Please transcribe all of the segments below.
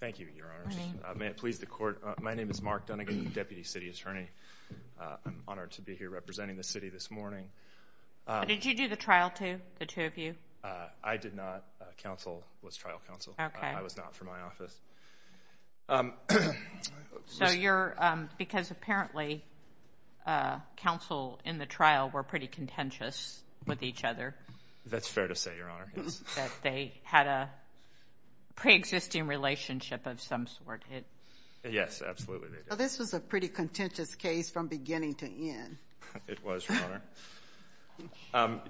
Thank you, Your Honor. May it please the court, my name is Mark Dunigan, Deputy City Attorney. I'm honored to be here representing the city this morning. Did you do the trial too, the two of you? I did not. Counsel was trial counsel. I was not from my office. So you're, because apparently counsel in the trial were pretty contentious with each other. That's fair to say, Your Honor. That they had a pre-existing relationship of some sort. Yes, absolutely. This was a pretty contentious case from beginning to end. It was, Your Honor.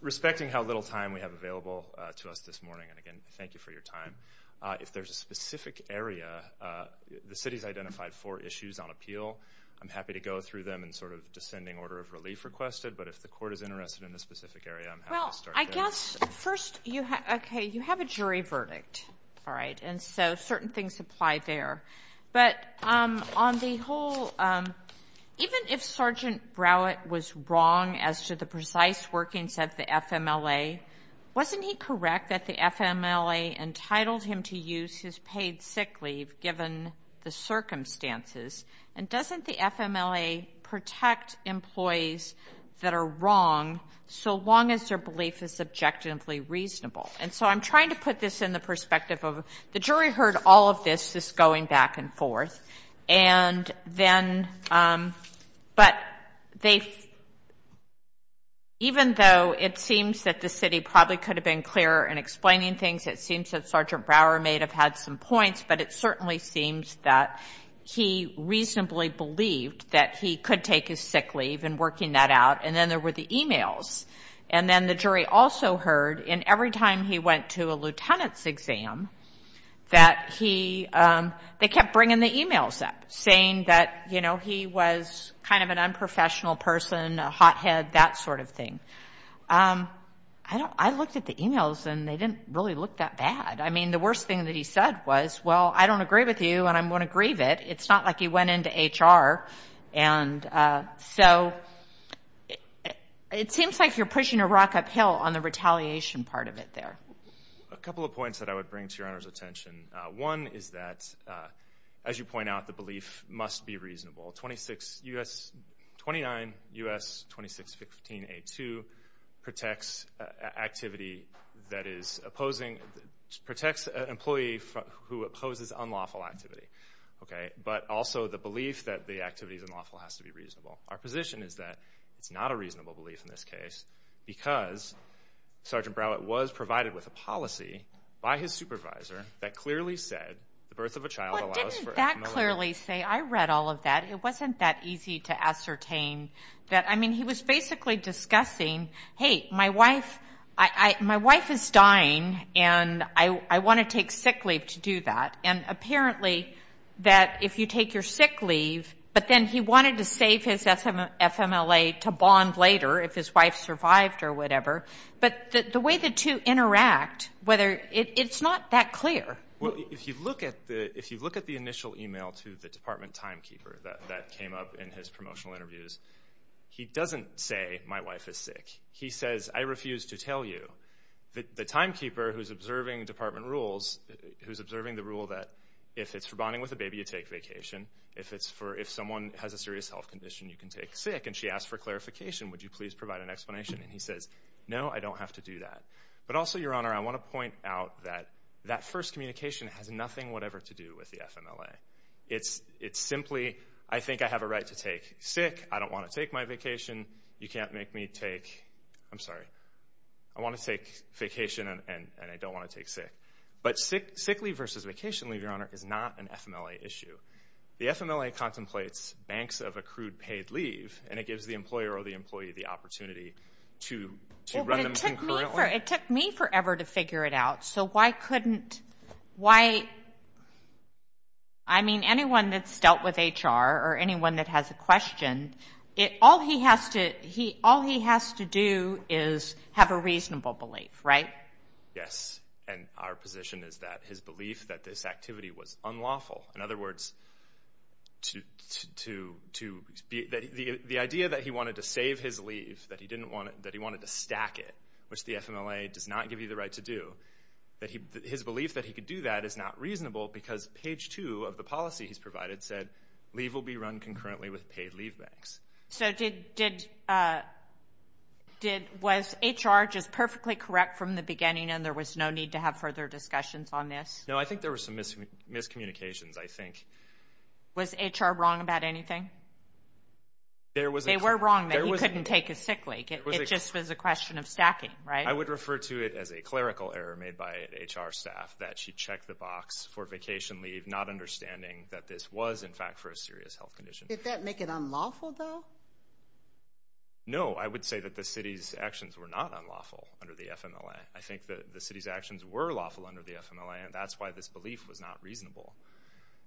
Respecting how little time we have available to us this morning, and again, thank you for your time. If there's a specific area, the city's identified four issues on appeal. I'm happy to go through them in sort of descending order of relief requested, but if the court is interested in a specific area, I'm happy to start there. I guess first, okay, you have a jury verdict, all right, and so certain things apply there. But on the whole, even if Sergeant Browett was wrong as to the precise workings of the FMLA, wasn't he correct that the FMLA entitled him to use his paid sick leave given the circumstances? And doesn't the FMLA protect employees that are wrong so long as their belief is objectively reasonable? And so I'm trying to put this in the perspective of the jury heard all of this, this going back and forth, and then, but they, even though it seems that the city probably could have been clearer in explaining things, it seems that Sergeant Brower may have had some points, but it certainly seems that he reasonably believed that he could take his sick leave and working that out, and then there were the e-mails. And then the jury also heard, and every time he went to a lieutenant's exam, that he, they kept bringing the e-mails up saying that, you know, he was kind of an unprofessional person, a hothead, that sort of thing. I looked at the e-mails, and they didn't really look that bad. I mean, the worst thing that he said was, well, I don't agree with you, and I'm going to grieve it. It's not like he went into HR. And so it seems like you're pushing a rock uphill on the retaliation part of it there. A couple of points that I would bring to Your Honor's attention. One is that, as you point out, the belief must be reasonable. 29 U.S. 2615A2 protects activity that is opposing, protects an employee who opposes unlawful activity. But also the belief that the activity is unlawful has to be reasonable. Our position is that it's not a reasonable belief in this case because Sergeant Browett was provided with a policy by his supervisor that clearly said the birth of a child allows for FMLA. Well, didn't that clearly say? I read all of that. It wasn't that easy to ascertain that. I mean, he was basically discussing, hey, my wife is dying, and I want to take sick leave to do that. And apparently that if you take your sick leave, but then he wanted to save his FMLA to bond later if his wife survived or whatever. But the way the two interact, it's not that clear. Well, if you look at the initial email to the department timekeeper that came up in his promotional interviews, he doesn't say, my wife is sick. He says, I refuse to tell you. The timekeeper who's observing department rules, who's observing the rule that if it's for bonding with a baby, you take vacation. If someone has a serious health condition, you can take sick. And she asked for clarification. Would you please provide an explanation? And he says, no, I don't have to do that. But also, Your Honor, I want to point out that that first communication has nothing whatever to do with the FMLA. It's simply, I think I have a right to take sick. I don't want to take my vacation. You can't make me take, I'm sorry, I want to take vacation and I don't want to take sick. But sick leave versus vacation leave, Your Honor, is not an FMLA issue. The FMLA contemplates banks of accrued paid leave, and it gives the employer or the employee the opportunity to run them concurrently. It took me forever to figure it out. So why couldn't, why, I mean, anyone that's dealt with HR or anyone that has a question, all he has to do is have a reasonable belief, right? Yes, and our position is that his belief that this activity was unlawful. In other words, the idea that he wanted to save his leave, that he wanted to stack it, which the FMLA does not give you the right to do, his belief that he could do that is not reasonable because page two of the policy he's provided said leave will be run concurrently with paid leave banks. So did, was HR just perfectly correct from the beginning and there was no need to have further discussions on this? No, I think there was some miscommunications, I think. Was HR wrong about anything? They were wrong that he couldn't take a sick leave. It just was a question of stacking, right? I would refer to it as a clerical error made by HR staff that she checked the box for vacation leave, not understanding that this was, in fact, for a serious health condition. Did that make it unlawful, though? No, I would say that the city's actions were not unlawful under the FMLA. I think that the city's actions were lawful under the FMLA, and that's why this belief was not reasonable.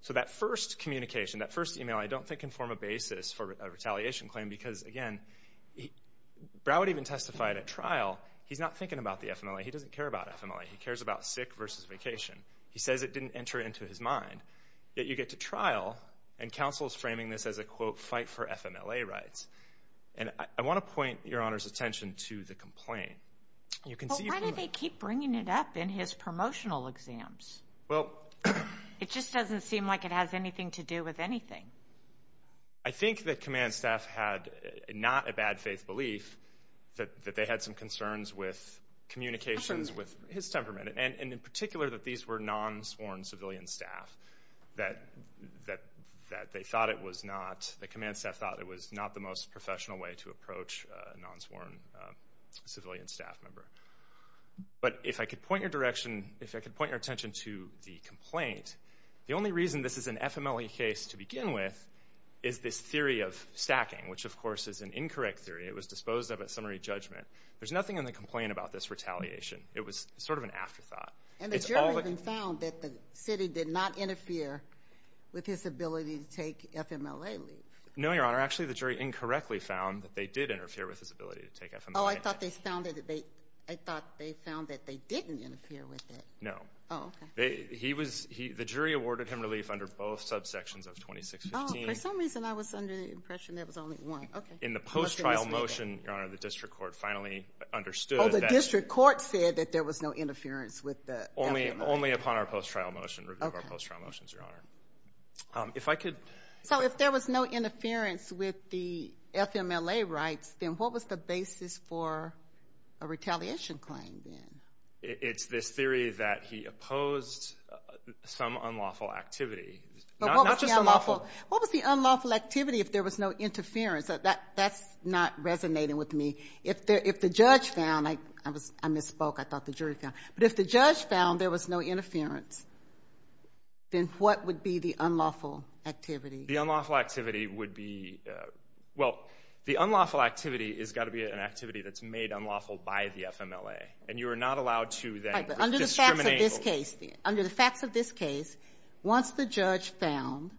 So that first communication, that first email, I don't think can form a basis for a retaliation claim because, again, Broward even testified at trial, he's not thinking about the FMLA. He doesn't care about FMLA. He cares about sick versus vacation. He says it didn't enter into his mind. Yet you get to trial, and counsel is framing this as a, quote, fight for FMLA rights. And I want to point Your Honor's attention to the complaint. Why do they keep bringing it up in his promotional exams? It just doesn't seem like it has anything to do with anything. I think that command staff had not a bad faith belief that they had some concerns with communications with his temperament, and in particular that these were non-sworn civilian staff, that they thought it was not, the command staff thought it was not the most professional way to approach a non-sworn civilian staff member. But if I could point your attention to the complaint, the only reason this is an FMLA case to begin with is this theory of stacking, which of course is an incorrect theory. It was disposed of at summary judgment. There's nothing in the complaint about this retaliation. It was sort of an afterthought. And the jury even found that the city did not interfere with his ability to take FMLA leave. No, Your Honor. Actually, the jury incorrectly found that they did interfere with his ability to take FMLA leave. Oh, I thought they found that they didn't interfere with it. No. The jury awarded him relief under both subsections of 2615. Oh, for some reason I was under the impression there was only one. In the post-trial motion, Your Honor, the district court finally understood that... Oh, the district court said that there was no interference with the FMLA. Only upon our post-trial motion, review of our post-trial motions, Your Honor. If I could... So if there was no interference with the FMLA rights, then what was the basis for a retaliation claim then? It's this theory that he opposed some unlawful activity. Not just unlawful. What was the unlawful activity if there was no interference? That's not resonating with me. If the judge found, I misspoke, I thought the jury found, but if the judge found there was no interference, then what would be the unlawful activity? The unlawful activity would be, well, the unlawful activity has got to be an activity that's made unlawful by the FMLA. And you are not allowed to then discriminate. Under the facts of this case, once the judge found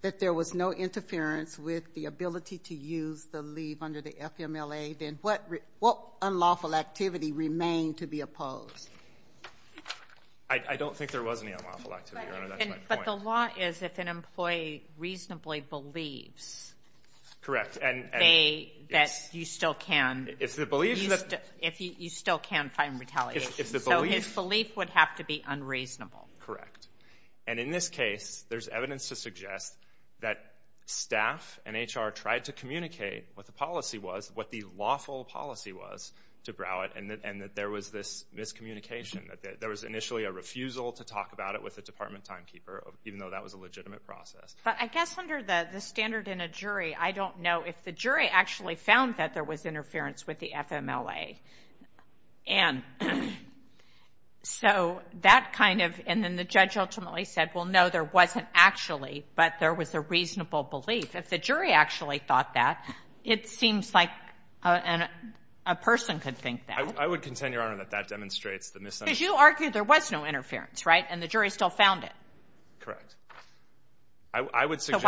that there was no interference with the ability to use the leave under the FMLA, then what unlawful activity remained to be opposed? I don't think there was any unlawful activity, Your Honor. That's my point. But the law is if an employee reasonably believes... Correct. ...that you still can find retaliation. So his belief would have to be unreasonable. Correct. And in this case, there's evidence to suggest that staff and HR tried to communicate what the policy was, what the lawful policy was to Broward, and that there was this miscommunication, that there was initially a refusal to talk about it with the department timekeeper, even though that was a legitimate process. But I guess under the standard in a jury, I don't know if the jury actually found that there was interference with the FMLA. And so that kind of, and then the judge ultimately said, well, no, there wasn't actually, but there was a reasonable belief. If the jury actually thought that, it seems like a person could think that. I would contend, Your Honor, that that demonstrates the misunderstanding. Because you argued there was no interference, right? And the jury still found it. Correct. I would suggest... It's a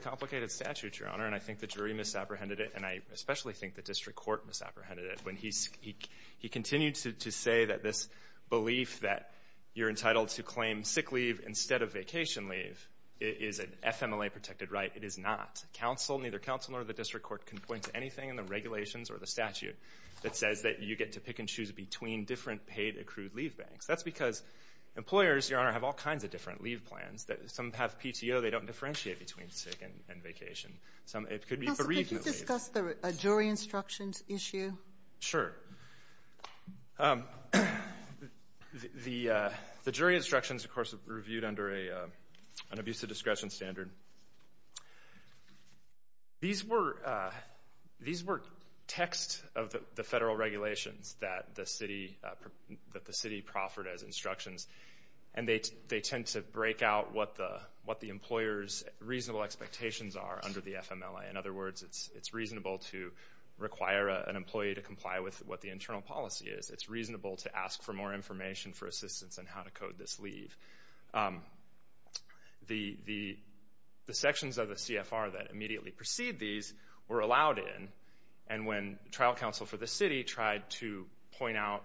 complicated statute, Your Honor, and I think the jury misapprehended it, and I especially think the district court misapprehended it. When he continued to say that this belief that you're entitled to claim sick leave instead of vacation leave is an FMLA-protected right. It is not. Counsel, neither counsel nor the district court can point to anything in the regulations or the statute that says that you get to pick and choose between different paid accrued leave banks. That's because employers, Your Honor, have all kinds of different leave plans. Some have PTO. They don't differentiate between sick and vacation. Counsel, could you discuss the jury instructions issue? Sure. The jury instructions, of course, are reviewed under an abuse of discretion standard. These were text of the federal regulations that the city proffered as instructions, and they tend to break out what the employer's reasonable expectations are under the FMLA. In other words, it's reasonable to require an employee to comply with what the internal policy is. It's reasonable to ask for more information for assistance in how to code this leave. The sections of the CFR that immediately precede these were allowed in, and when trial counsel for the city tried to point out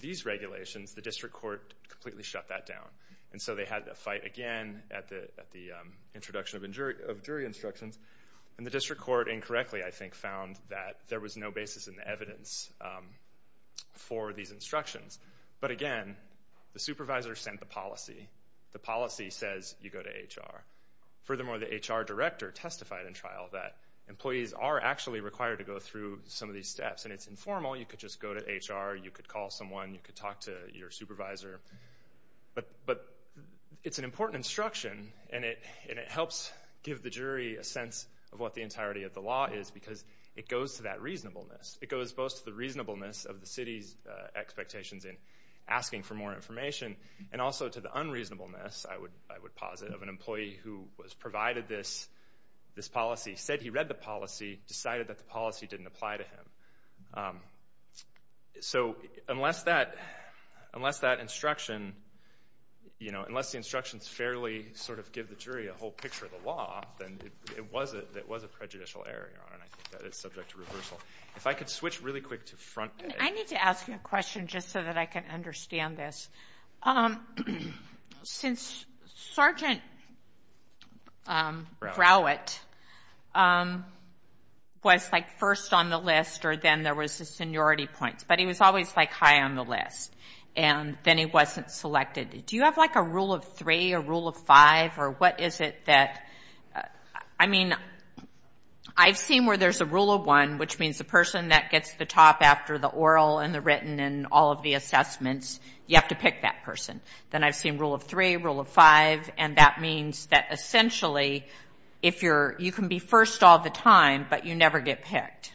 these regulations, the district court completely shut that down. And so they had to fight again at the introduction of jury instructions, and the district court incorrectly, I think, found that there was no basis in the evidence for these instructions. But again, the supervisor sent the policy. The policy says you go to HR. Furthermore, the HR director testified in trial that employees are actually required to go through some of these steps, and it's informal. You could just go to HR. You could call someone. You could talk to your supervisor. But it's an important instruction, and it helps give the jury a sense of what the entirety of the law is because it goes to that reasonableness. It goes both to the reasonableness of the city's expectations in asking for more information and also to the unreasonableness, I would posit, of an employee who was provided this policy, said he read the policy, decided that the policy didn't apply to him. So unless that instruction, you know, unless the instructions fairly sort of give the jury a whole picture of the law, then it was a prejudicial error, and I think that is subject to reversal. If I could switch really quick to front page. I need to ask you a question just so that I can understand this. Since Sergeant Browett was, like, first on the list or then there was the seniority points, but he was always, like, high on the list, and then he wasn't selected, do you have, like, a rule of three, a rule of five, or what is it that, I mean, I've seen where there's a rule of one, which means the person that gets the top after the oral and the written and all of the assessments, you have to pick that person. Then I've seen rule of three, rule of five, and that means that essentially you can be first all the time, but you never get picked.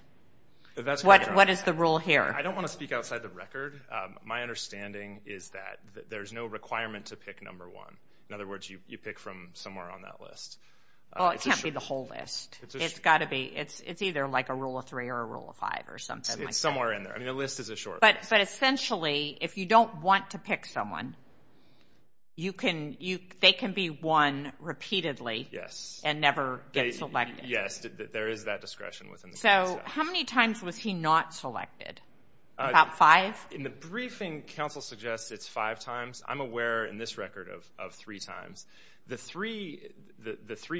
What is the rule here? I don't want to speak outside the record. My understanding is that there's no requirement to pick number one. In other words, you pick from somewhere on that list. Well, it can't be the whole list. It's got to be. It's either, like, a rule of three or a rule of five or something like that. It's somewhere in there. I mean, a list is a short list. But essentially, if you don't want to pick someone, they can be one repeatedly and never get selected. Yes, there is that discretion within the committee. So how many times was he not selected? About five? In the briefing, counsel suggests it's five times. I'm aware in this record of three times. The three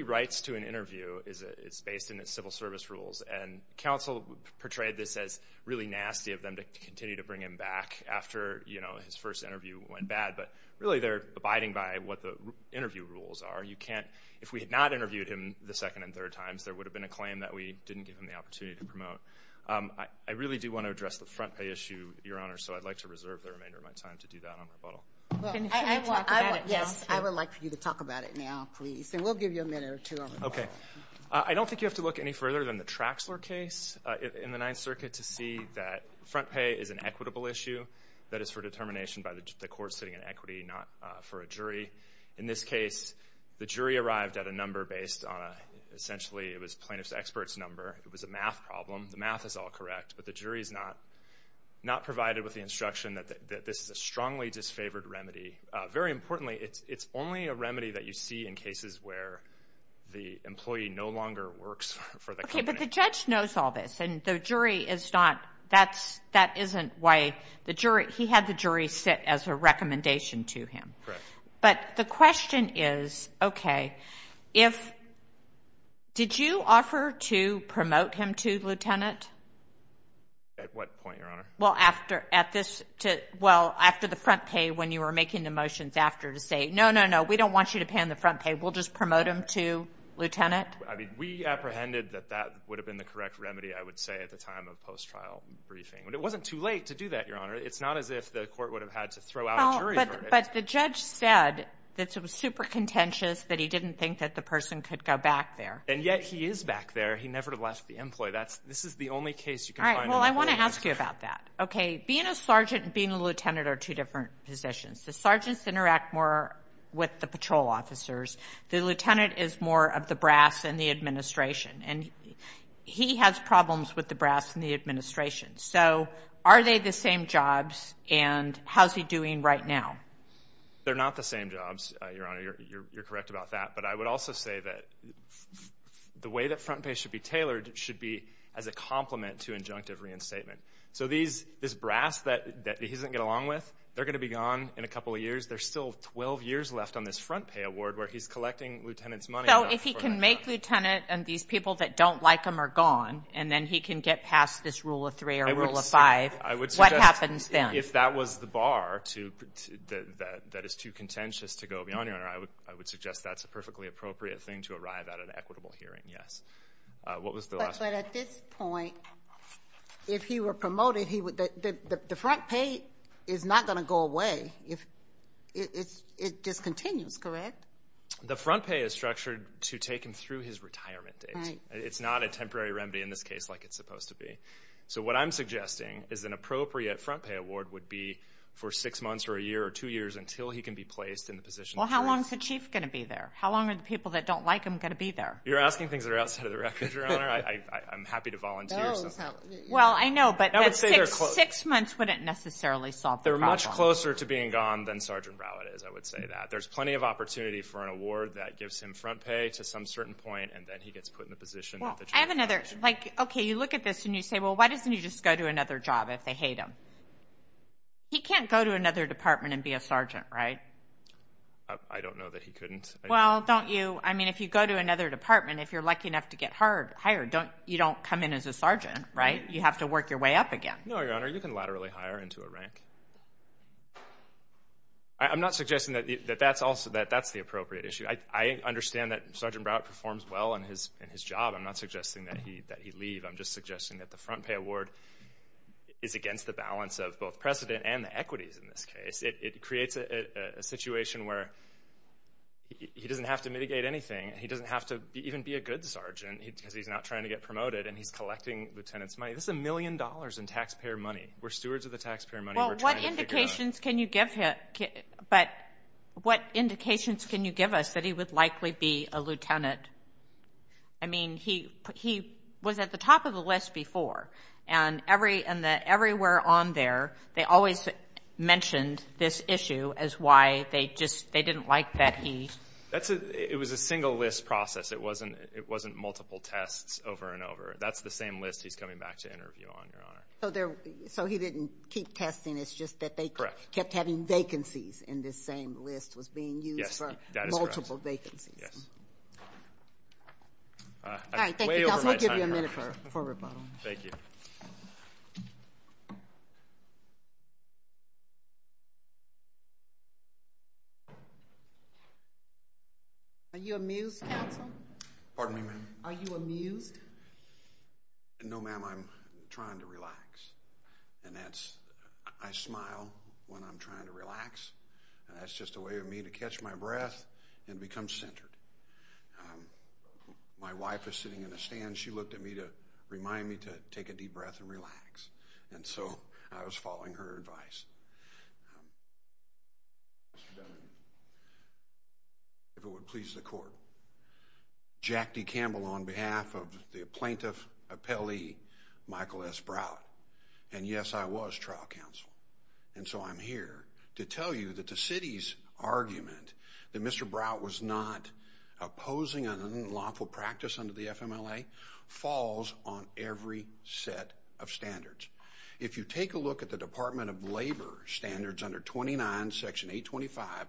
rights to an interview, it's based in its civil service rules, and counsel portrayed this as really nasty of them to continue to bring him back after his first interview went bad. But really, they're abiding by what the interview rules are. If we had not interviewed him the second and third times, there would have been a claim that we didn't give him the opportunity to promote. I really do want to address the front pay issue, Your Honor, so I'd like to reserve the remainder of my time to do that on rebuttal. Yes, I would like for you to talk about it now, please. And we'll give you a minute or two on rebuttal. Okay. I don't think you have to look any further than the Traxler case in the Ninth Circuit to see that front pay is an equitable issue that is for determination by the court sitting in equity, not for a jury. In this case, the jury arrived at a number based on essentially it was plaintiff's expert's number. It was a math problem. The math is all correct, but the jury is not provided with the instruction that this is a strongly disfavored remedy. Very importantly, it's only a remedy that you see in cases where the employee no longer works for the company. Okay, but the judge knows all this, and the jury is not—that isn't why the jury—he had the jury sit as a recommendation to him. Correct. But the question is, okay, if—did you offer to promote him to lieutenant? At what point, Your Honor? Well, after—at this—well, after the front pay when you were making the motions after to say, no, no, no, we don't want you to pay on the front pay. We'll just promote him to lieutenant. I mean, we apprehended that that would have been the correct remedy, I would say, at the time of post-trial briefing. But it wasn't too late to do that, Your Honor. It's not as if the court would have had to throw out a jury verdict. Well, but the judge said that it was super contentious that he didn't think that the person could go back there. And yet he is back there. He never left the employee. That's—this is the only case you can find— Well, I want to ask you about that. Okay, being a sergeant and being a lieutenant are two different positions. The sergeants interact more with the patrol officers. The lieutenant is more of the brass in the administration. And he has problems with the brass in the administration. So are they the same jobs, and how is he doing right now? They're not the same jobs, Your Honor. You're correct about that. But I would also say that the way that front pay should be tailored should be as a complement to injunctive reinstatement. So this brass that he doesn't get along with, they're going to be gone in a couple of years. There's still 12 years left on this front pay award where he's collecting lieutenant's money. So if he can make lieutenant and these people that don't like him are gone, and then he can get past this rule of three or rule of five, what happens then? If that was the bar that is too contentious to go beyond, Your Honor, I would suggest that's a perfectly appropriate thing to arrive at an equitable hearing, yes. What was the last one? But at this point, if he were promoted, the front pay is not going to go away. It discontinues, correct? The front pay is structured to take him through his retirement date. It's not a temporary remedy in this case like it's supposed to be. So what I'm suggesting is an appropriate front pay award would be for six months or a year or two years until he can be placed in the position. Well, how long is the chief going to be there? How long are the people that don't like him going to be there? You're asking things that are outside of the record, Your Honor. I'm happy to volunteer. Well, I know, but six months wouldn't necessarily solve the problem. They're much closer to being gone than Sergeant Rowlett is, I would say that. There's plenty of opportunity for an award that gives him front pay to some certain point, and then he gets put in the position. Well, I have another. Like, okay, you look at this and you say, well, why doesn't he just go to another job if they hate him? He can't go to another department and be a sergeant, right? I don't know that he couldn't. Well, don't you? I mean, if you go to another department, if you're lucky enough to get hired, you don't come in as a sergeant, right? You have to work your way up again. No, Your Honor, you can laterally hire into a rank. I'm not suggesting that that's the appropriate issue. I understand that Sergeant Rowlett performs well in his job. I'm not suggesting that he leave. I'm just suggesting that the front pay award is against the balance of both precedent and the equities in this case. It creates a situation where he doesn't have to mitigate anything. He doesn't have to even be a good sergeant because he's not trying to get promoted, and he's collecting lieutenants' money. This is a million dollars in taxpayer money. We're stewards of the taxpayer money. We're trying to figure it out. But what indications can you give us that he would likely be a lieutenant? I mean, he was at the top of the list before, and everywhere on there, they always mentioned this issue as why they didn't like that he— It was a single list process. It wasn't multiple tests over and over. That's the same list he's coming back to interview on, Your Honor. So he didn't keep testing. It's just that they kept having vacancies, and this same list was being used for multiple vacancies. Yes. All right. Thank you. That will give you a minute for rebuttal. Thank you. Are you amused, counsel? Pardon me, ma'am? Are you amused? No, ma'am. I'm trying to relax, and that's—I smile when I'm trying to relax, and that's just a way for me to catch my breath and become centered. My wife is sitting in a stand. She looked at me to remind me to take a deep breath and relax, and so I was following her advice. If it would please the court. Jack D. Campbell on behalf of the plaintiff appellee, Michael S. Brow, and yes, I was trial counsel, and so I'm here to tell you that the city's argument that Mr. Brow was not opposing an unlawful practice under the FMLA falls on every set of standards. If you take a look at the Department of Labor standards under 29, Section 825,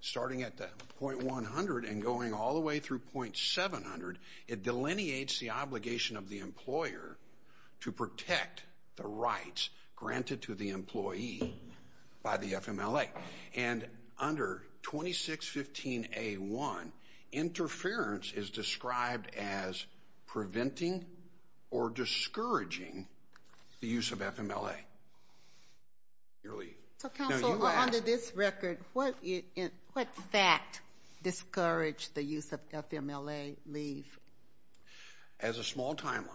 starting at .100 and going all the way through .700, it delineates the obligation of the employer to protect the rights granted to the employee by the FMLA, and under 2615A1, interference is described as preventing or discouraging the use of FMLA. Your leave. Counsel, under this record, what fact discouraged the use of FMLA leave? As a small timeline,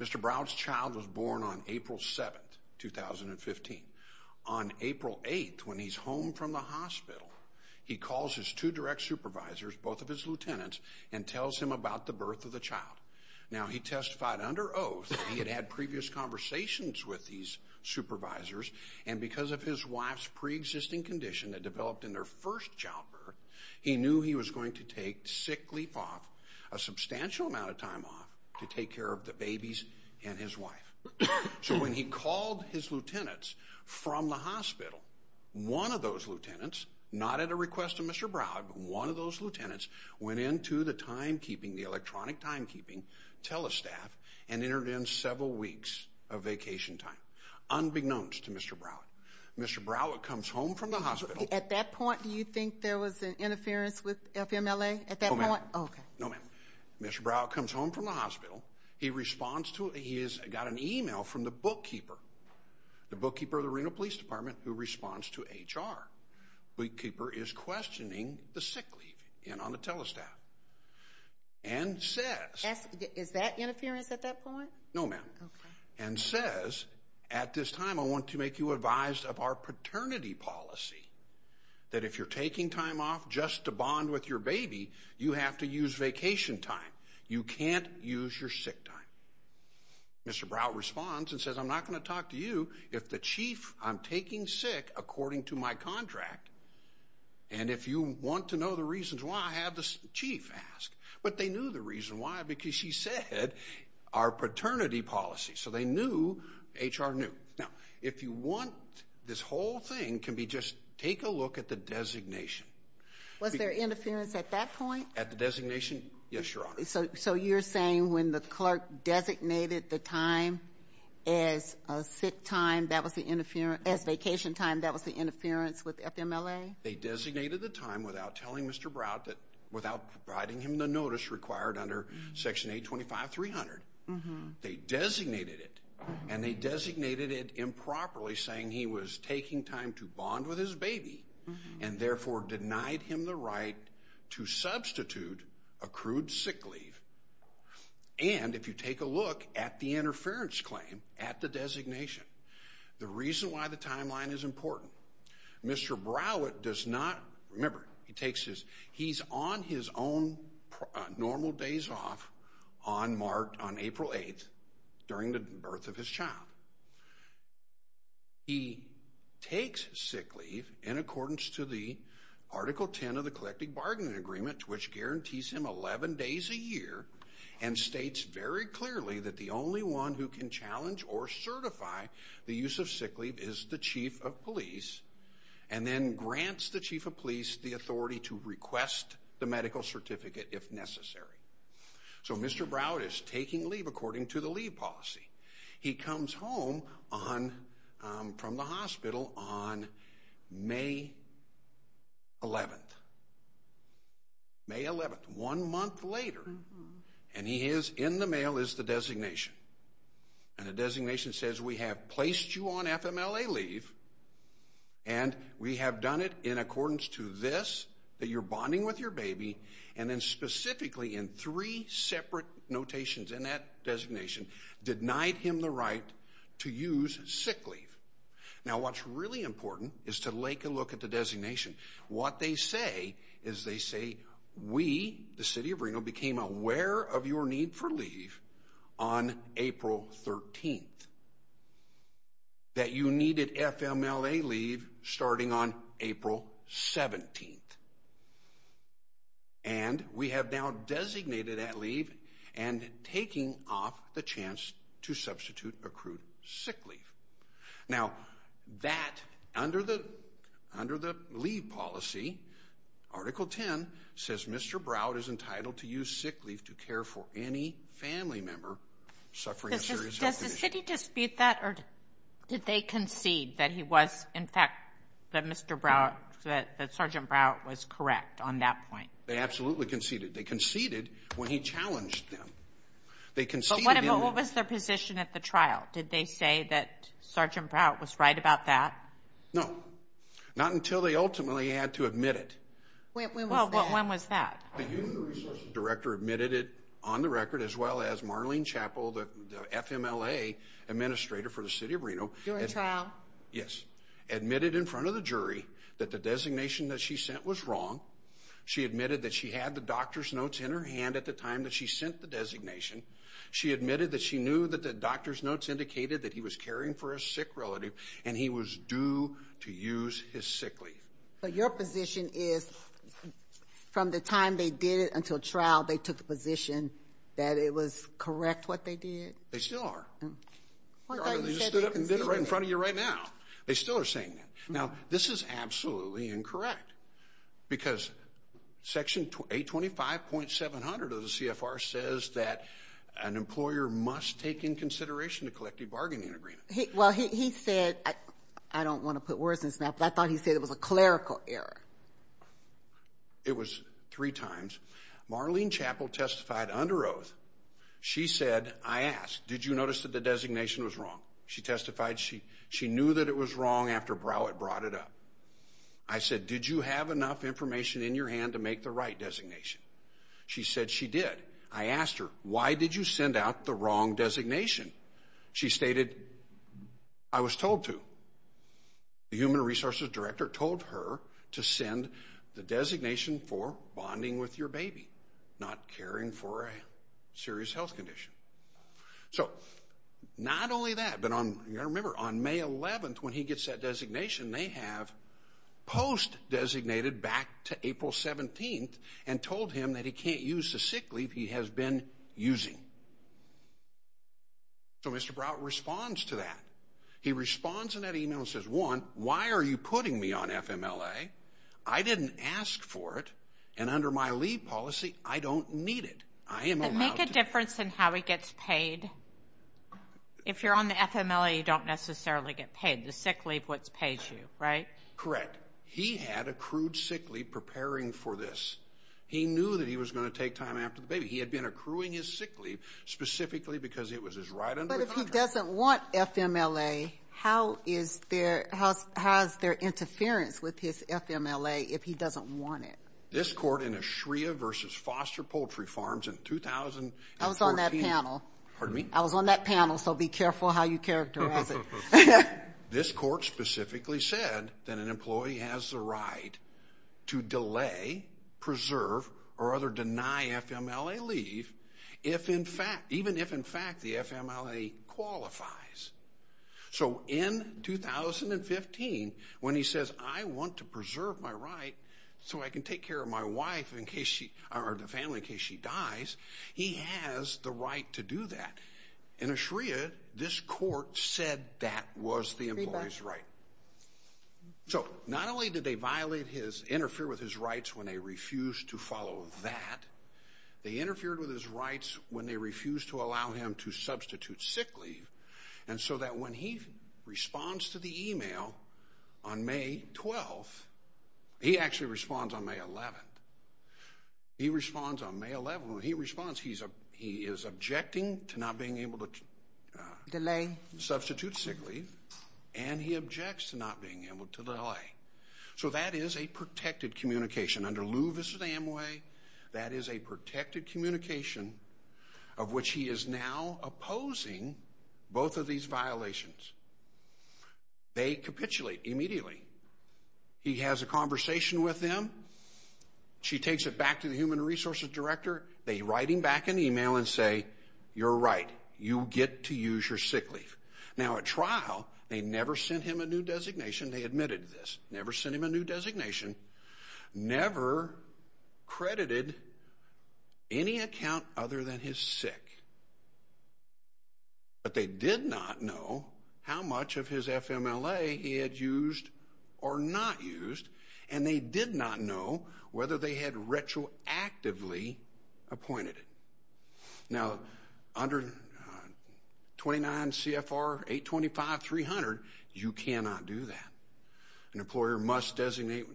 Mr. Brow's child was born on April 7, 2015. On April 8, when he's home from the hospital, he calls his two direct supervisors, both of his lieutenants, and tells him about the birth of the child. Now, he testified under oath that he had had previous conversations with these supervisors, and because of his wife's preexisting condition that developed in their first childbirth, he knew he was going to take sick leave off, a substantial amount of time off, to take care of the babies and his wife. So when he called his lieutenants from the hospital, one of those lieutenants, not at a request of Mr. Brow, but one of those lieutenants went into the timekeeping, the electronic timekeeping, telestaff, and entered in several weeks of vacation time, unbeknownst to Mr. Brow. Mr. Brow comes home from the hospital. At that point, do you think there was an interference with FMLA at that point? No, ma'am. Okay. No, ma'am. Mr. Brow comes home from the hospital. He responds to it. He has got an email from the bookkeeper, the bookkeeper of the Reno Police Department, who responds to HR. The bookkeeper is questioning the sick leave on the telestaff and says— Is that interference at that point? No, ma'am. Okay. And says, at this time, I want to make you advised of our paternity policy, that if you're taking time off just to bond with your baby, you have to use vacation time. You can't use your sick time. Mr. Brow responds and says, I'm not going to talk to you if the chief I'm taking sick according to my contract. And if you want to know the reasons why, have the chief ask. But they knew the reason why because she said, our paternity policy. So they knew HR knew. Now, if you want, this whole thing can be just take a look at the designation. Was there interference at that point? At the designation? Yes, Your Honor. So you're saying when the clerk designated the time as a sick time, that was the interference—as vacation time, that was the interference with FMLA? They designated the time without telling Mr. Brow that—without providing him the notice required under Section 825.300. They designated it, and they designated it improperly, saying he was taking time to bond with his baby and therefore denied him the right to substitute accrued sick leave. And if you take a look at the interference claim at the designation, the reason why the timeline is important, Mr. Brow does not—remember, he takes his—he's on his own normal days off on March—on April 8th during the birth of his child. He takes sick leave in accordance to the Article 10 of the Collective Bargaining Agreement, which guarantees him 11 days a year and states very clearly that the only one who can challenge or certify the use of sick leave is the chief of police, and then grants the chief of police the authority to request the medical certificate if necessary. So Mr. Brow is taking leave according to the leave policy. He comes home on—from the hospital on May 11th. May 11th, one month later, and he is—in the mail is the designation. And the designation says we have placed you on FMLA leave, and we have done it in accordance to this, that you're bonding with your baby, and then specifically in three separate notations in that designation, denied him the right to use sick leave. Now what's really important is to take a look at the designation. What they say is they say we, the city of Reno, became aware of your need for leave on April 13th. That you needed FMLA leave starting on April 17th. And we have now designated that leave and taking off the chance to substitute accrued sick leave. Now that, under the leave policy, Article 10 says Mr. Brow is entitled to use sick leave to care for any family member suffering a serious health condition. Should he dispute that, or did they concede that he was, in fact, that Mr. Brow—that Sergeant Brow was correct on that point? They absolutely conceded. They conceded when he challenged them. They conceded— But what was their position at the trial? Did they say that Sergeant Brow was right about that? No. Not until they ultimately had to admit it. Well, when was that? The union resources director admitted it on the record, as well as Marlene Chappell, the FMLA administrator for the city of Reno. During trial? Yes. Admitted in front of the jury that the designation that she sent was wrong. She admitted that she had the doctor's notes in her hand at the time that she sent the designation. She admitted that she knew that the doctor's notes indicated that he was caring for a sick relative, and he was due to use his sick leave. But your position is, from the time they did it until trial, they took the position that it was correct what they did? They still are. I thought you said they conceded it. They just stood up and did it right in front of you right now. They still are saying that. Now, this is absolutely incorrect, because Section 825.700 of the CFR says that an employer must take into consideration the collective bargaining agreement. Well, he said, I don't want to put words in his mouth, but I thought he said it was a clerical error. It was three times. Marlene Chappell testified under oath. She said, I asked, did you notice that the designation was wrong? She testified she knew that it was wrong after Broward brought it up. I said, did you have enough information in your hand to make the right designation? She said she did. I asked her, why did you send out the wrong designation? She stated, I was told to. The human resources director told her to send the designation for bonding with your baby, not caring for a serious health condition. So, not only that, but you've got to remember, on May 11th, when he gets that designation, they have post-designated back to April 17th and told him that he can't use the sick leave he has been using. So, Mr. Broward responds to that. He responds in that email and says, one, why are you putting me on FMLA? I didn't ask for it, and under my leave policy, I don't need it. I am allowed to. And make a difference in how he gets paid. If you're on the FMLA, you don't necessarily get paid. The sick leave is what pays you, right? Correct. He had accrued sick leave preparing for this. He knew that he was going to take time after the baby. He had been accruing his sick leave specifically because it was his right under his contract. But if he doesn't want FMLA, how is there interference with his FMLA if he doesn't want it? This court in Eshria v. Foster Poultry Farms in 2014. I was on that panel. Pardon me? I was on that panel, so be careful how you characterize it. This court specifically said that an employee has the right to delay, preserve, or rather deny FMLA leave even if, in fact, the FMLA qualifies. So in 2015, when he says, I want to preserve my right so I can take care of my wife or the family in case she dies, he has the right to do that. In Eshria, this court said that was the employee's right. So not only did they violate his, interfere with his rights when they refused to follow that, they interfered with his rights when they refused to allow him to substitute sick leave. And so that when he responds to the email on May 12th, he actually responds on May 11th. He responds on May 11th. When he responds, he is objecting to not being able to delay, substitute sick leave, and he objects to not being able to delay. So that is a protected communication. Under Lew v. Amway, that is a protected communication of which he is now opposing both of these violations. They capitulate immediately. He has a conversation with them. She takes it back to the human resources director. They write him back an email and say, you're right. You get to use your sick leave. Now at trial, they never sent him a new designation. They admitted this. Never sent him a new designation. Never credited any account other than his sick. But they did not know how much of his FMLA he had used or not used, and they did not know whether they had retroactively appointed him. Now under 29 CFR 825-300, you cannot do that. An employer must designate,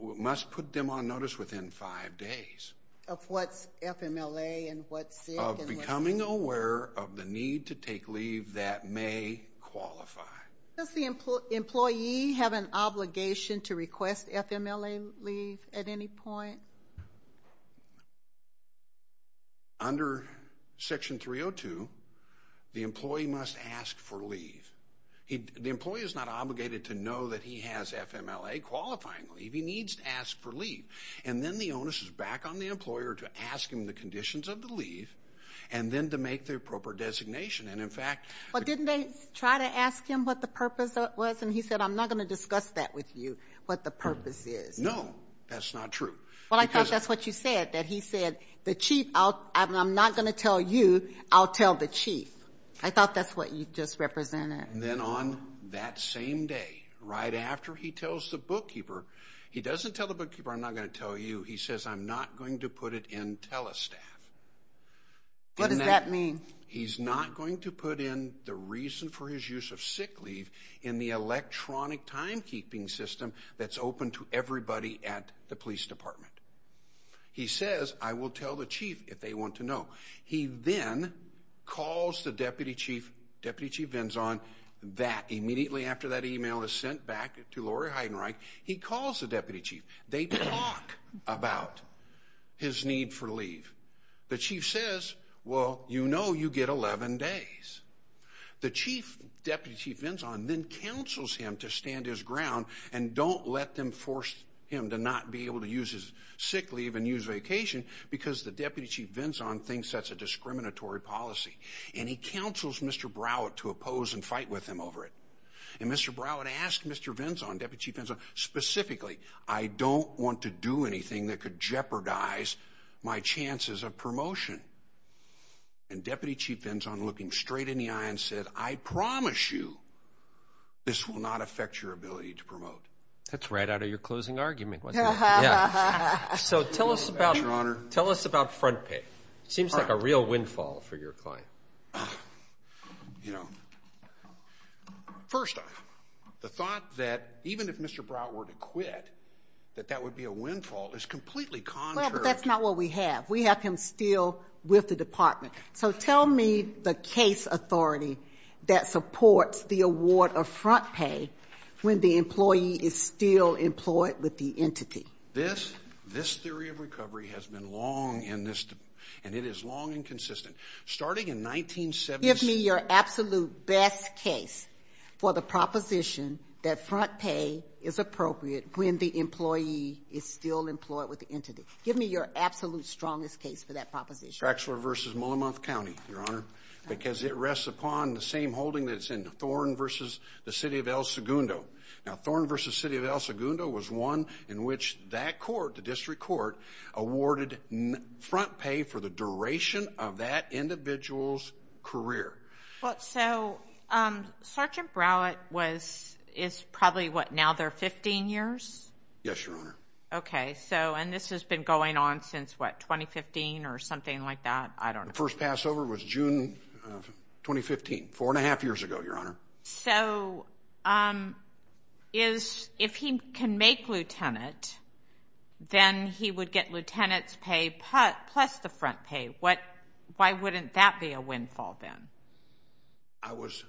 must put them on notice within five days. Of what's FMLA and what's sick and what's not. Of becoming aware of the need to take leave that may qualify. Does the employee have an obligation to request FMLA leave at any point? Under Section 302, the employee must ask for leave. The employee is not obligated to know that he has FMLA qualifying leave. He needs to ask for leave. And then the onus is back on the employer to ask him the conditions of the leave and then to make the appropriate designation. Well, didn't they try to ask him what the purpose was? And he said, I'm not going to discuss that with you, what the purpose is. No, that's not true. Well, I thought that's what you said, that he said, I'm not going to tell you, I'll tell the chief. I thought that's what you just represented. And then on that same day, right after he tells the bookkeeper, he doesn't tell the bookkeeper, I'm not going to tell you. He says, I'm not going to put it in Telestat. What does that mean? He's not going to put in the reason for his use of sick leave in the electronic timekeeping system that's open to everybody at the police department. He says, I will tell the chief if they want to know. He then calls the deputy chief, deputy chief Vinson, that immediately after that email is sent back to Lori Heidenreich, he calls the deputy chief. They talk about his need for leave. The chief says, well, you know you get 11 days. The chief, deputy chief Vinson, then counsels him to stand his ground and don't let them force him to not be able to use his sick leave and use vacation because the deputy chief Vinson thinks that's a discriminatory policy. And he counsels Mr. Broward to oppose and fight with him over it. And Mr. Broward asked Mr. Vinson, deputy chief Vinson, specifically, I don't want to do anything that could jeopardize my chances of promotion. And deputy chief Vinson, looking straight in the eye and said, I promise you this will not affect your ability to promote. That's right out of your closing argument, wasn't it? So tell us about front pay. It seems like a real windfall for your client. You know, first off, the thought that even if Mr. Broward were to quit, that that would be a windfall is completely contrary. Well, but that's not what we have. We have him still with the department. So tell me the case authority that supports the award of front pay when the employee is still employed with the entity. This theory of recovery has been long in this, and it is long and consistent. Starting in 1976. Give me your absolute best case for the proposition that front pay is appropriate when the employee is still employed with the entity. Give me your absolute strongest case for that proposition. Craxler v. Mullimuth County, Your Honor, because it rests upon the same holding that's in Thorn v. The City of El Segundo. Now, Thorn v. The City of El Segundo was one in which that court, the district court, awarded front pay for the duration of that individual's career. So Sergeant Broward is probably, what, now they're 15 years? Yes, Your Honor. Okay. And this has been going on since, what, 2015 or something like that? I don't know. The first Passover was June of 2015, four and a half years ago, Your Honor. So if he can make lieutenant, then he would get lieutenant's pay plus the front pay. Why wouldn't that be a windfall then? I was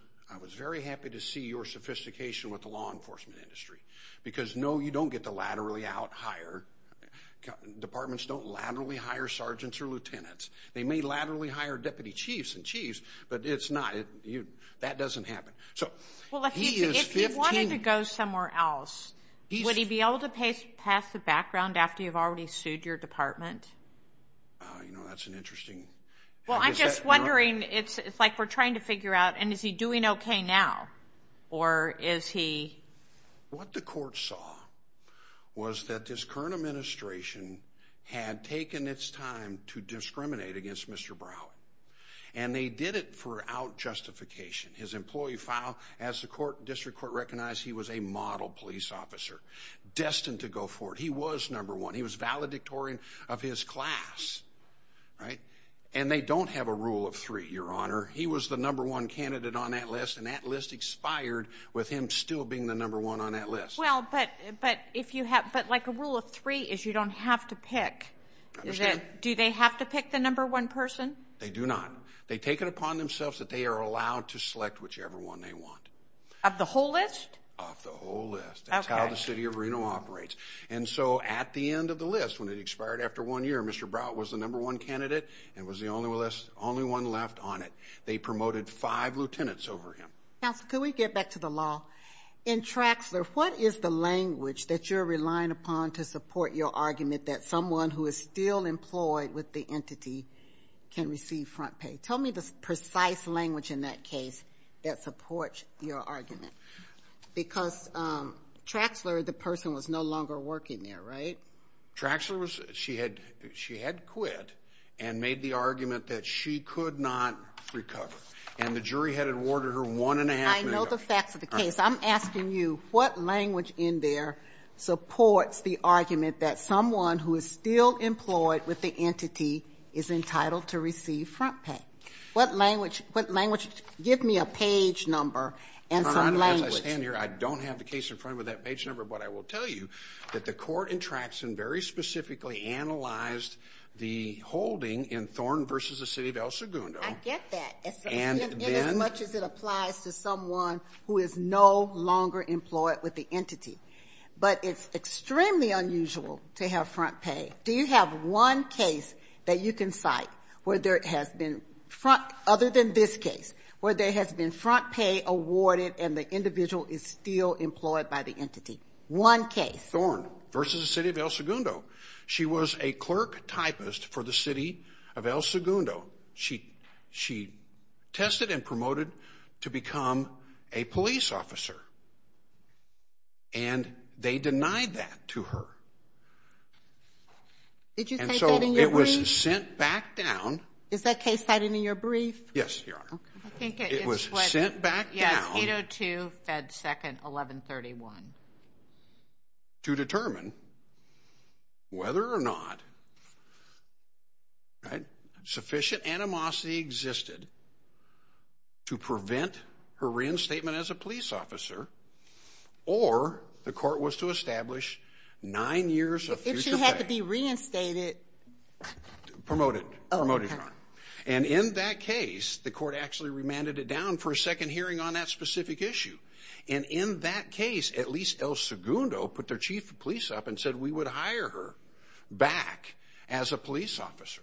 very happy to see your sophistication with the law enforcement industry, because, no, you don't get the laterally out hire. Departments don't laterally hire sergeants or lieutenants. They may laterally hire deputy chiefs and chiefs, but it's not. That doesn't happen. Well, if he wanted to go somewhere else, would he be able to pass the background after you've already sued your department? You know, that's an interesting question. Well, I'm just wondering. It's like we're trying to figure out, and is he doing okay now, or is he? What the court saw was that this current administration had taken its time to discriminate against Mr. Broward, and they did it for out justification. His employee file, as the district court recognized, he was a model police officer, destined to go forward. He was number one. He was valedictorian of his class, right? And they don't have a rule of three, Your Honor. He was the number one candidate on that list, and that list expired with him still being the number one on that list. Well, but like a rule of three is you don't have to pick. Do they have to pick the number one person? They do not. They take it upon themselves that they are allowed to select whichever one they want. Of the whole list? Of the whole list. That's how the city of Reno operates. And so at the end of the list, when it expired after one year, Mr. Broward was the number one candidate and was the only one left on it. They promoted five lieutenants over him. Counsel, could we get back to the law? In Traxler, what is the language that you're relying upon to support your argument that someone who is still employed with the entity can receive front pay? Tell me the precise language in that case that supports your argument. Because Traxler, the person, was no longer working there, right? Traxler, she had quit and made the argument that she could not recover. And the jury had awarded her one and a half minutes. I know the facts of the case. I'm asking you, what language in there supports the argument that someone who is still employed with the entity is entitled to receive front pay? What language? Give me a page number and some language. Your Honor, as I stand here, I don't have the case in front of me with that page number. But I will tell you that the court in Traxler very specifically analyzed the holding in Thorne v. The City of El Segundo. I get that. And as much as it applies to someone who is no longer employed with the entity. But it's extremely unusual to have front pay. Do you have one case that you can cite where there has been, other than this case, where there has been front pay awarded and the individual is still employed by the entity? One case. Thorne v. The City of El Segundo. She was a clerk typist for the City of El Segundo. She tested and promoted to become a police officer. And they denied that to her. Did you cite that in your brief? It was sent back down. Is that case cited in your brief? Yes, Your Honor. It was sent back down. Yes, 802, Fed 2nd, 1131. To determine whether or not sufficient animosity existed to prevent her reinstatement as a police officer or the court was to establish nine years of future pay. It should have to be reinstated. Promoted. Promoted, Your Honor. And in that case, the court actually remanded it down for a second hearing on that specific issue. And in that case, at least El Segundo put their chief of police up and said we would hire her back as a police officer.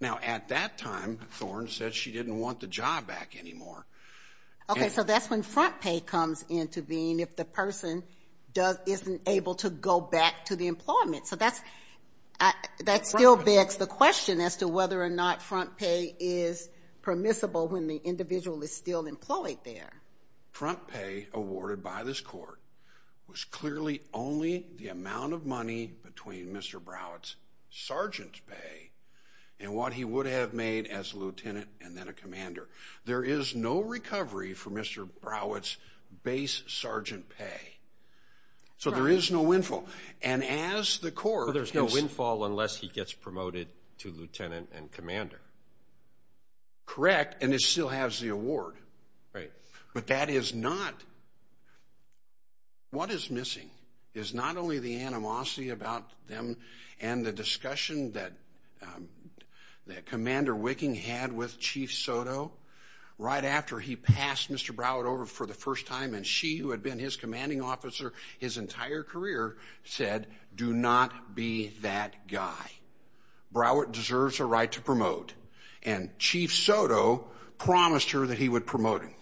Now, at that time, Thorne said she didn't want the job back anymore. Okay, so that's when front pay comes into being if the person isn't able to go back to the employment. So that still begs the question as to whether or not front pay is permissible when the individual is still employed there. Front pay awarded by this court was clearly only the amount of money between Mr. Broward's sergeant's pay and what he would have made as a lieutenant and then a commander. There is no recovery for Mr. Broward's base sergeant pay. So there is no windfall. And as the court— So there's no windfall unless he gets promoted to lieutenant and commander. Correct, and it still has the award. Right. But that is not—what is missing is not only the animosity about them and the discussion that Commander Wicking had with Chief Soto right after he passed Mr. Broward over for the first time and she, who had been his commanding officer his entire career, said do not be that guy. Broward deserves a right to promote. And Chief Soto promised her that he would promote him.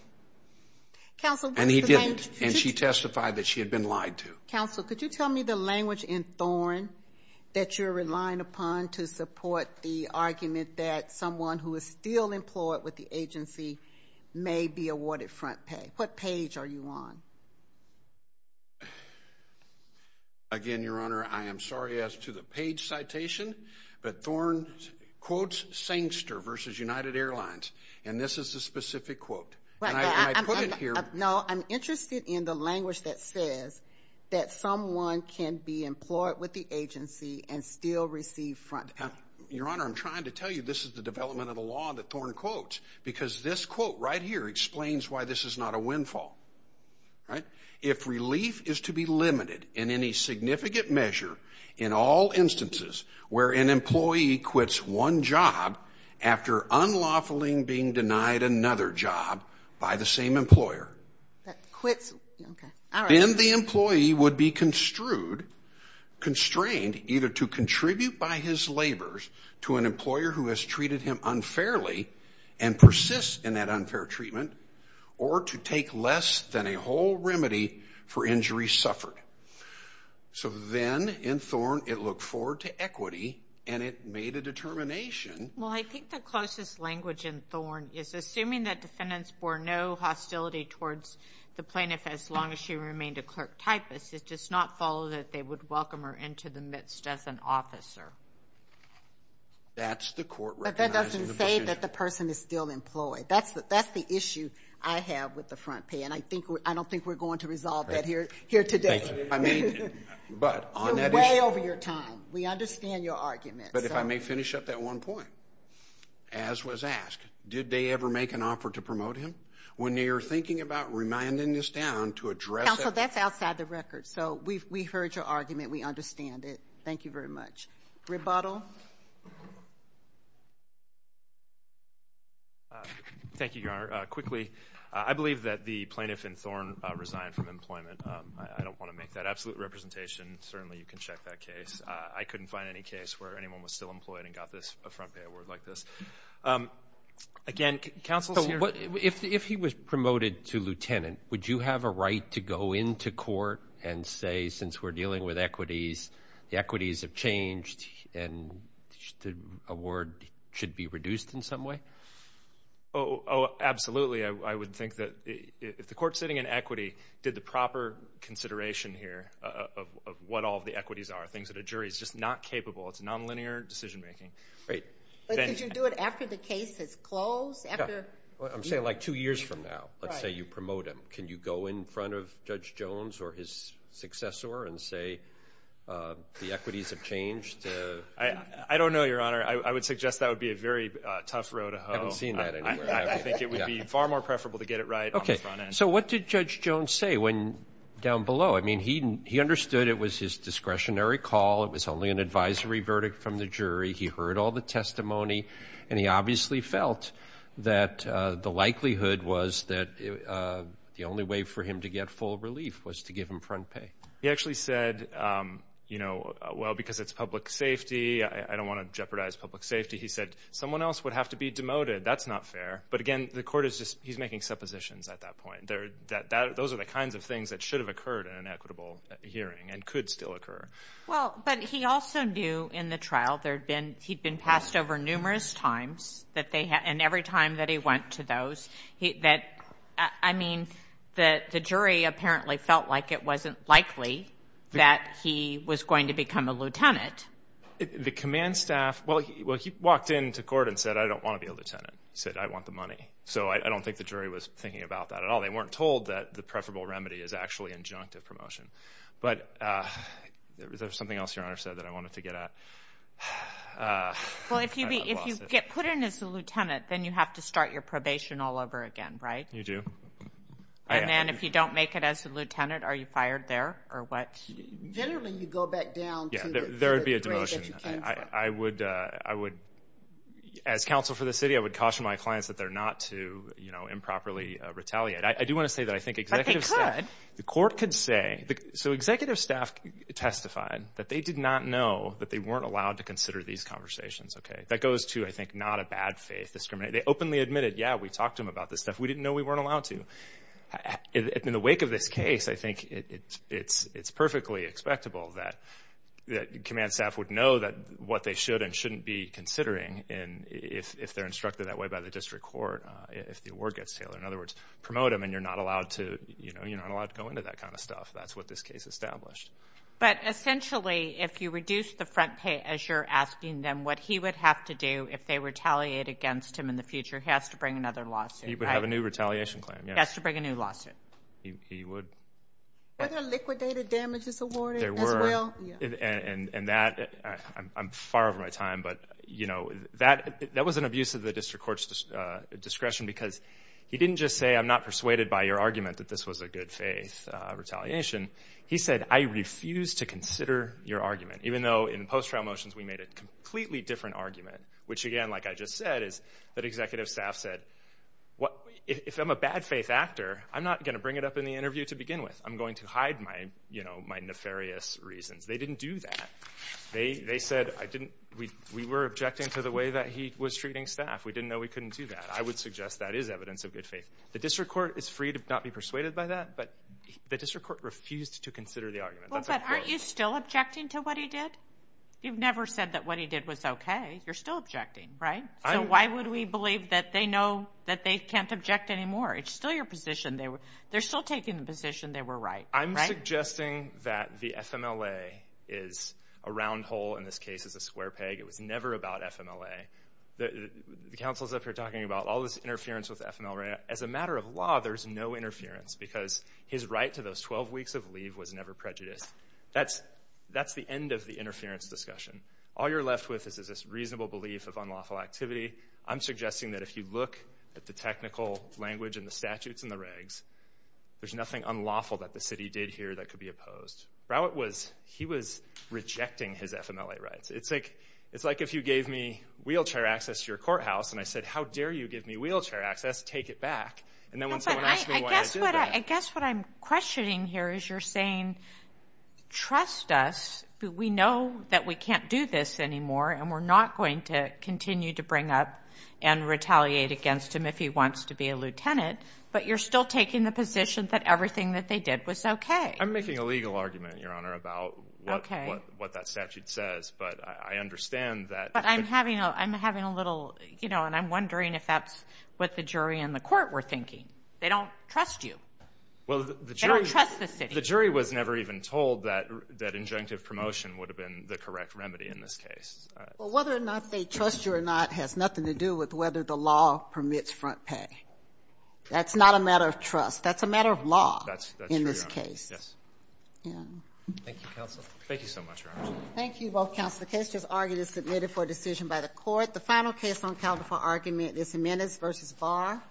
And he didn't, and she testified that she had been lied to. Counsel, could you tell me the language in Thorne that you're relying upon to support the argument that someone who is still employed with the agency may be awarded front pay? What page are you on? Again, Your Honor, I am sorry as to the page citation, but Thorne quotes Sengster v. United Airlines, and this is the specific quote. And I put it here— No, I'm interested in the language that says that someone can be employed with the agency and still receive front pay. Your Honor, I'm trying to tell you this is the development of the law that Thorne quotes because this quote right here explains why this is not a windfall. If relief is to be limited in any significant measure in all instances where an employee quits one job after unlawfully being denied another job by the same employer, then the employee would be constrained either to contribute by his labors to an employer who has treated him unfairly and persists in that unfair treatment or to take less than a whole remedy for injuries suffered. So then in Thorne, it looked forward to equity, and it made a determination— Well, I think the closest language in Thorne is assuming that defendants bore no hostility towards the plaintiff as long as she remained a clerk typist. It does not follow that they would welcome her into the midst as an officer. That's the court recognizing the position. But that doesn't say that the person is still employed. That's the issue I have with the front pay, and I don't think we're going to resolve that here today. I mean, but on that issue— You're way over your time. We understand your argument. But if I may finish up that one point, as was asked, did they ever make an offer to promote him? When you're thinking about reminding this down to address— Counsel, that's outside the record. So we heard your argument. We understand it. Thank you very much. Rebuttal. Thank you, Your Honor. Quickly, I believe that the plaintiff in Thorne resigned from employment. I don't want to make that absolute representation. Certainly you can check that case. I couldn't find any case where anyone was still employed and got a front pay award like this. Again, counsel's here. If he was promoted to lieutenant, would you have a right to go into court and say, since we're dealing with equities, the equities have changed and the award should be reduced in some way? Oh, absolutely. I would think that if the court sitting in equity did the proper consideration here of what all the equities are, things that a jury is just not capable of, it's nonlinear decision-making. Great. But could you do it after the case is closed? I'm saying like two years from now. Let's say you promote him. Can you go in front of Judge Jones or his successor and say the equities have changed? I don't know, Your Honor. I would suggest that would be a very tough row to hoe. I haven't seen that anywhere. I think it would be far more preferable to get it right on the front end. Okay. So what did Judge Jones say down below? I mean, he understood it was his discretionary call. It was only an advisory verdict from the jury. He heard all the testimony, and he obviously felt that the likelihood was that the only way for him to get full relief was to give him front pay. He actually said, you know, well, because it's public safety, I don't want to jeopardize public safety. He said someone else would have to be demoted. That's not fair. But, again, the court is just making suppositions at that point. Those are the kinds of things that should have occurred in an equitable hearing and could still occur. Well, but he also knew in the trial he'd been passed over numerous times, and every time that he went to those. I mean, the jury apparently felt like it wasn't likely that he was going to become a lieutenant. The command staff, well, he walked into court and said, I don't want to be a lieutenant. He said, I want the money. So I don't think the jury was thinking about that at all. They weren't told that the preferable remedy is actually injunctive promotion. But is there something else your Honor said that I wanted to get at? Well, if you get put in as a lieutenant, then you have to start your probation all over again, right? You do. And then if you don't make it as a lieutenant, are you fired there or what? Generally, you go back down to the grade that you came from. Yeah, there would be a demotion. I would, as counsel for the city, I would caution my clients that they're not to, you know, improperly retaliate. I do want to say that I think executives say. But they could. The court could say. So executive staff testified that they did not know that they weren't allowed to consider these conversations, okay? That goes to, I think, not a bad faith. They openly admitted, yeah, we talked to them about this stuff. We didn't know we weren't allowed to. In the wake of this case, I think it's perfectly expectable that command staff would know what they should and shouldn't be considering if they're instructed that way by the district court, if the award gets tailored. In other words, promote them and you're not allowed to, you know, you're not allowed to go into that kind of stuff. That's what this case established. But essentially, if you reduce the front pay as you're asking them what he would have to do if they retaliate against him in the future, he has to bring another lawsuit, right? He would have a new retaliation claim, yes. He has to bring a new lawsuit. He would. Were there liquidated damages awarded as well? There were. And that, I'm far over my time, but, you know, that was an abuse of the district court's discretion because he didn't just say, I'm not persuaded by your argument that this was a good faith retaliation. He said, I refuse to consider your argument, even though in post-trial motions we made a completely different argument, which, again, like I just said, is that executive staff said, if I'm a bad faith actor, I'm not going to bring it up in the interview to begin with. I'm going to hide my, you know, my nefarious reasons. They didn't do that. They said, we were objecting to the way that he was treating staff. We didn't know we couldn't do that. I would suggest that is evidence of good faith. The district court is free to not be persuaded by that, but the district court refused to consider the argument. Well, but aren't you still objecting to what he did? You've never said that what he did was okay. You're still objecting, right? So why would we believe that they know that they can't object anymore? It's still your position. They're still taking the position they were right. I'm suggesting that the FMLA is a round hole. In this case, it's a square peg. It was never about FMLA. The council's up here talking about all this interference with FMLA. As a matter of law, there's no interference because his right to those 12 weeks of leave was never prejudiced. That's the end of the interference discussion. All you're left with is this reasonable belief of unlawful activity. I'm suggesting that if you look at the technical language and the statutes and the regs, there's nothing unlawful that the city did here that could be opposed. Rowett was, he was rejecting his FMLA rights. It's like if you gave me wheelchair access to your courthouse and I said, how dare you give me wheelchair access? Take it back. And then when someone asks me why I did that. I guess what I'm questioning here is you're saying, trust us. We know that we can't do this anymore, and we're not going to continue to bring up and retaliate against him if he wants to be a lieutenant. But you're still taking the position that everything that they did was okay. I'm making a legal argument, Your Honor, about what that statute says. But I understand that. But I'm having a little, you know, and I'm wondering if that's what the jury and the court were thinking. They don't trust you. They don't trust the city. The jury was never even told that injunctive promotion would have been the correct remedy in this case. Well, whether or not they trust you or not has nothing to do with whether the law permits front pay. That's not a matter of trust. That's a matter of law in this case. That's true, Your Honor. Yes. Thank you, counsel. Thank you so much, Your Honor. Thank you both, counsel. The case just argued is submitted for decision by the court. The final case on calendar for argument is Jimenez v. Barr.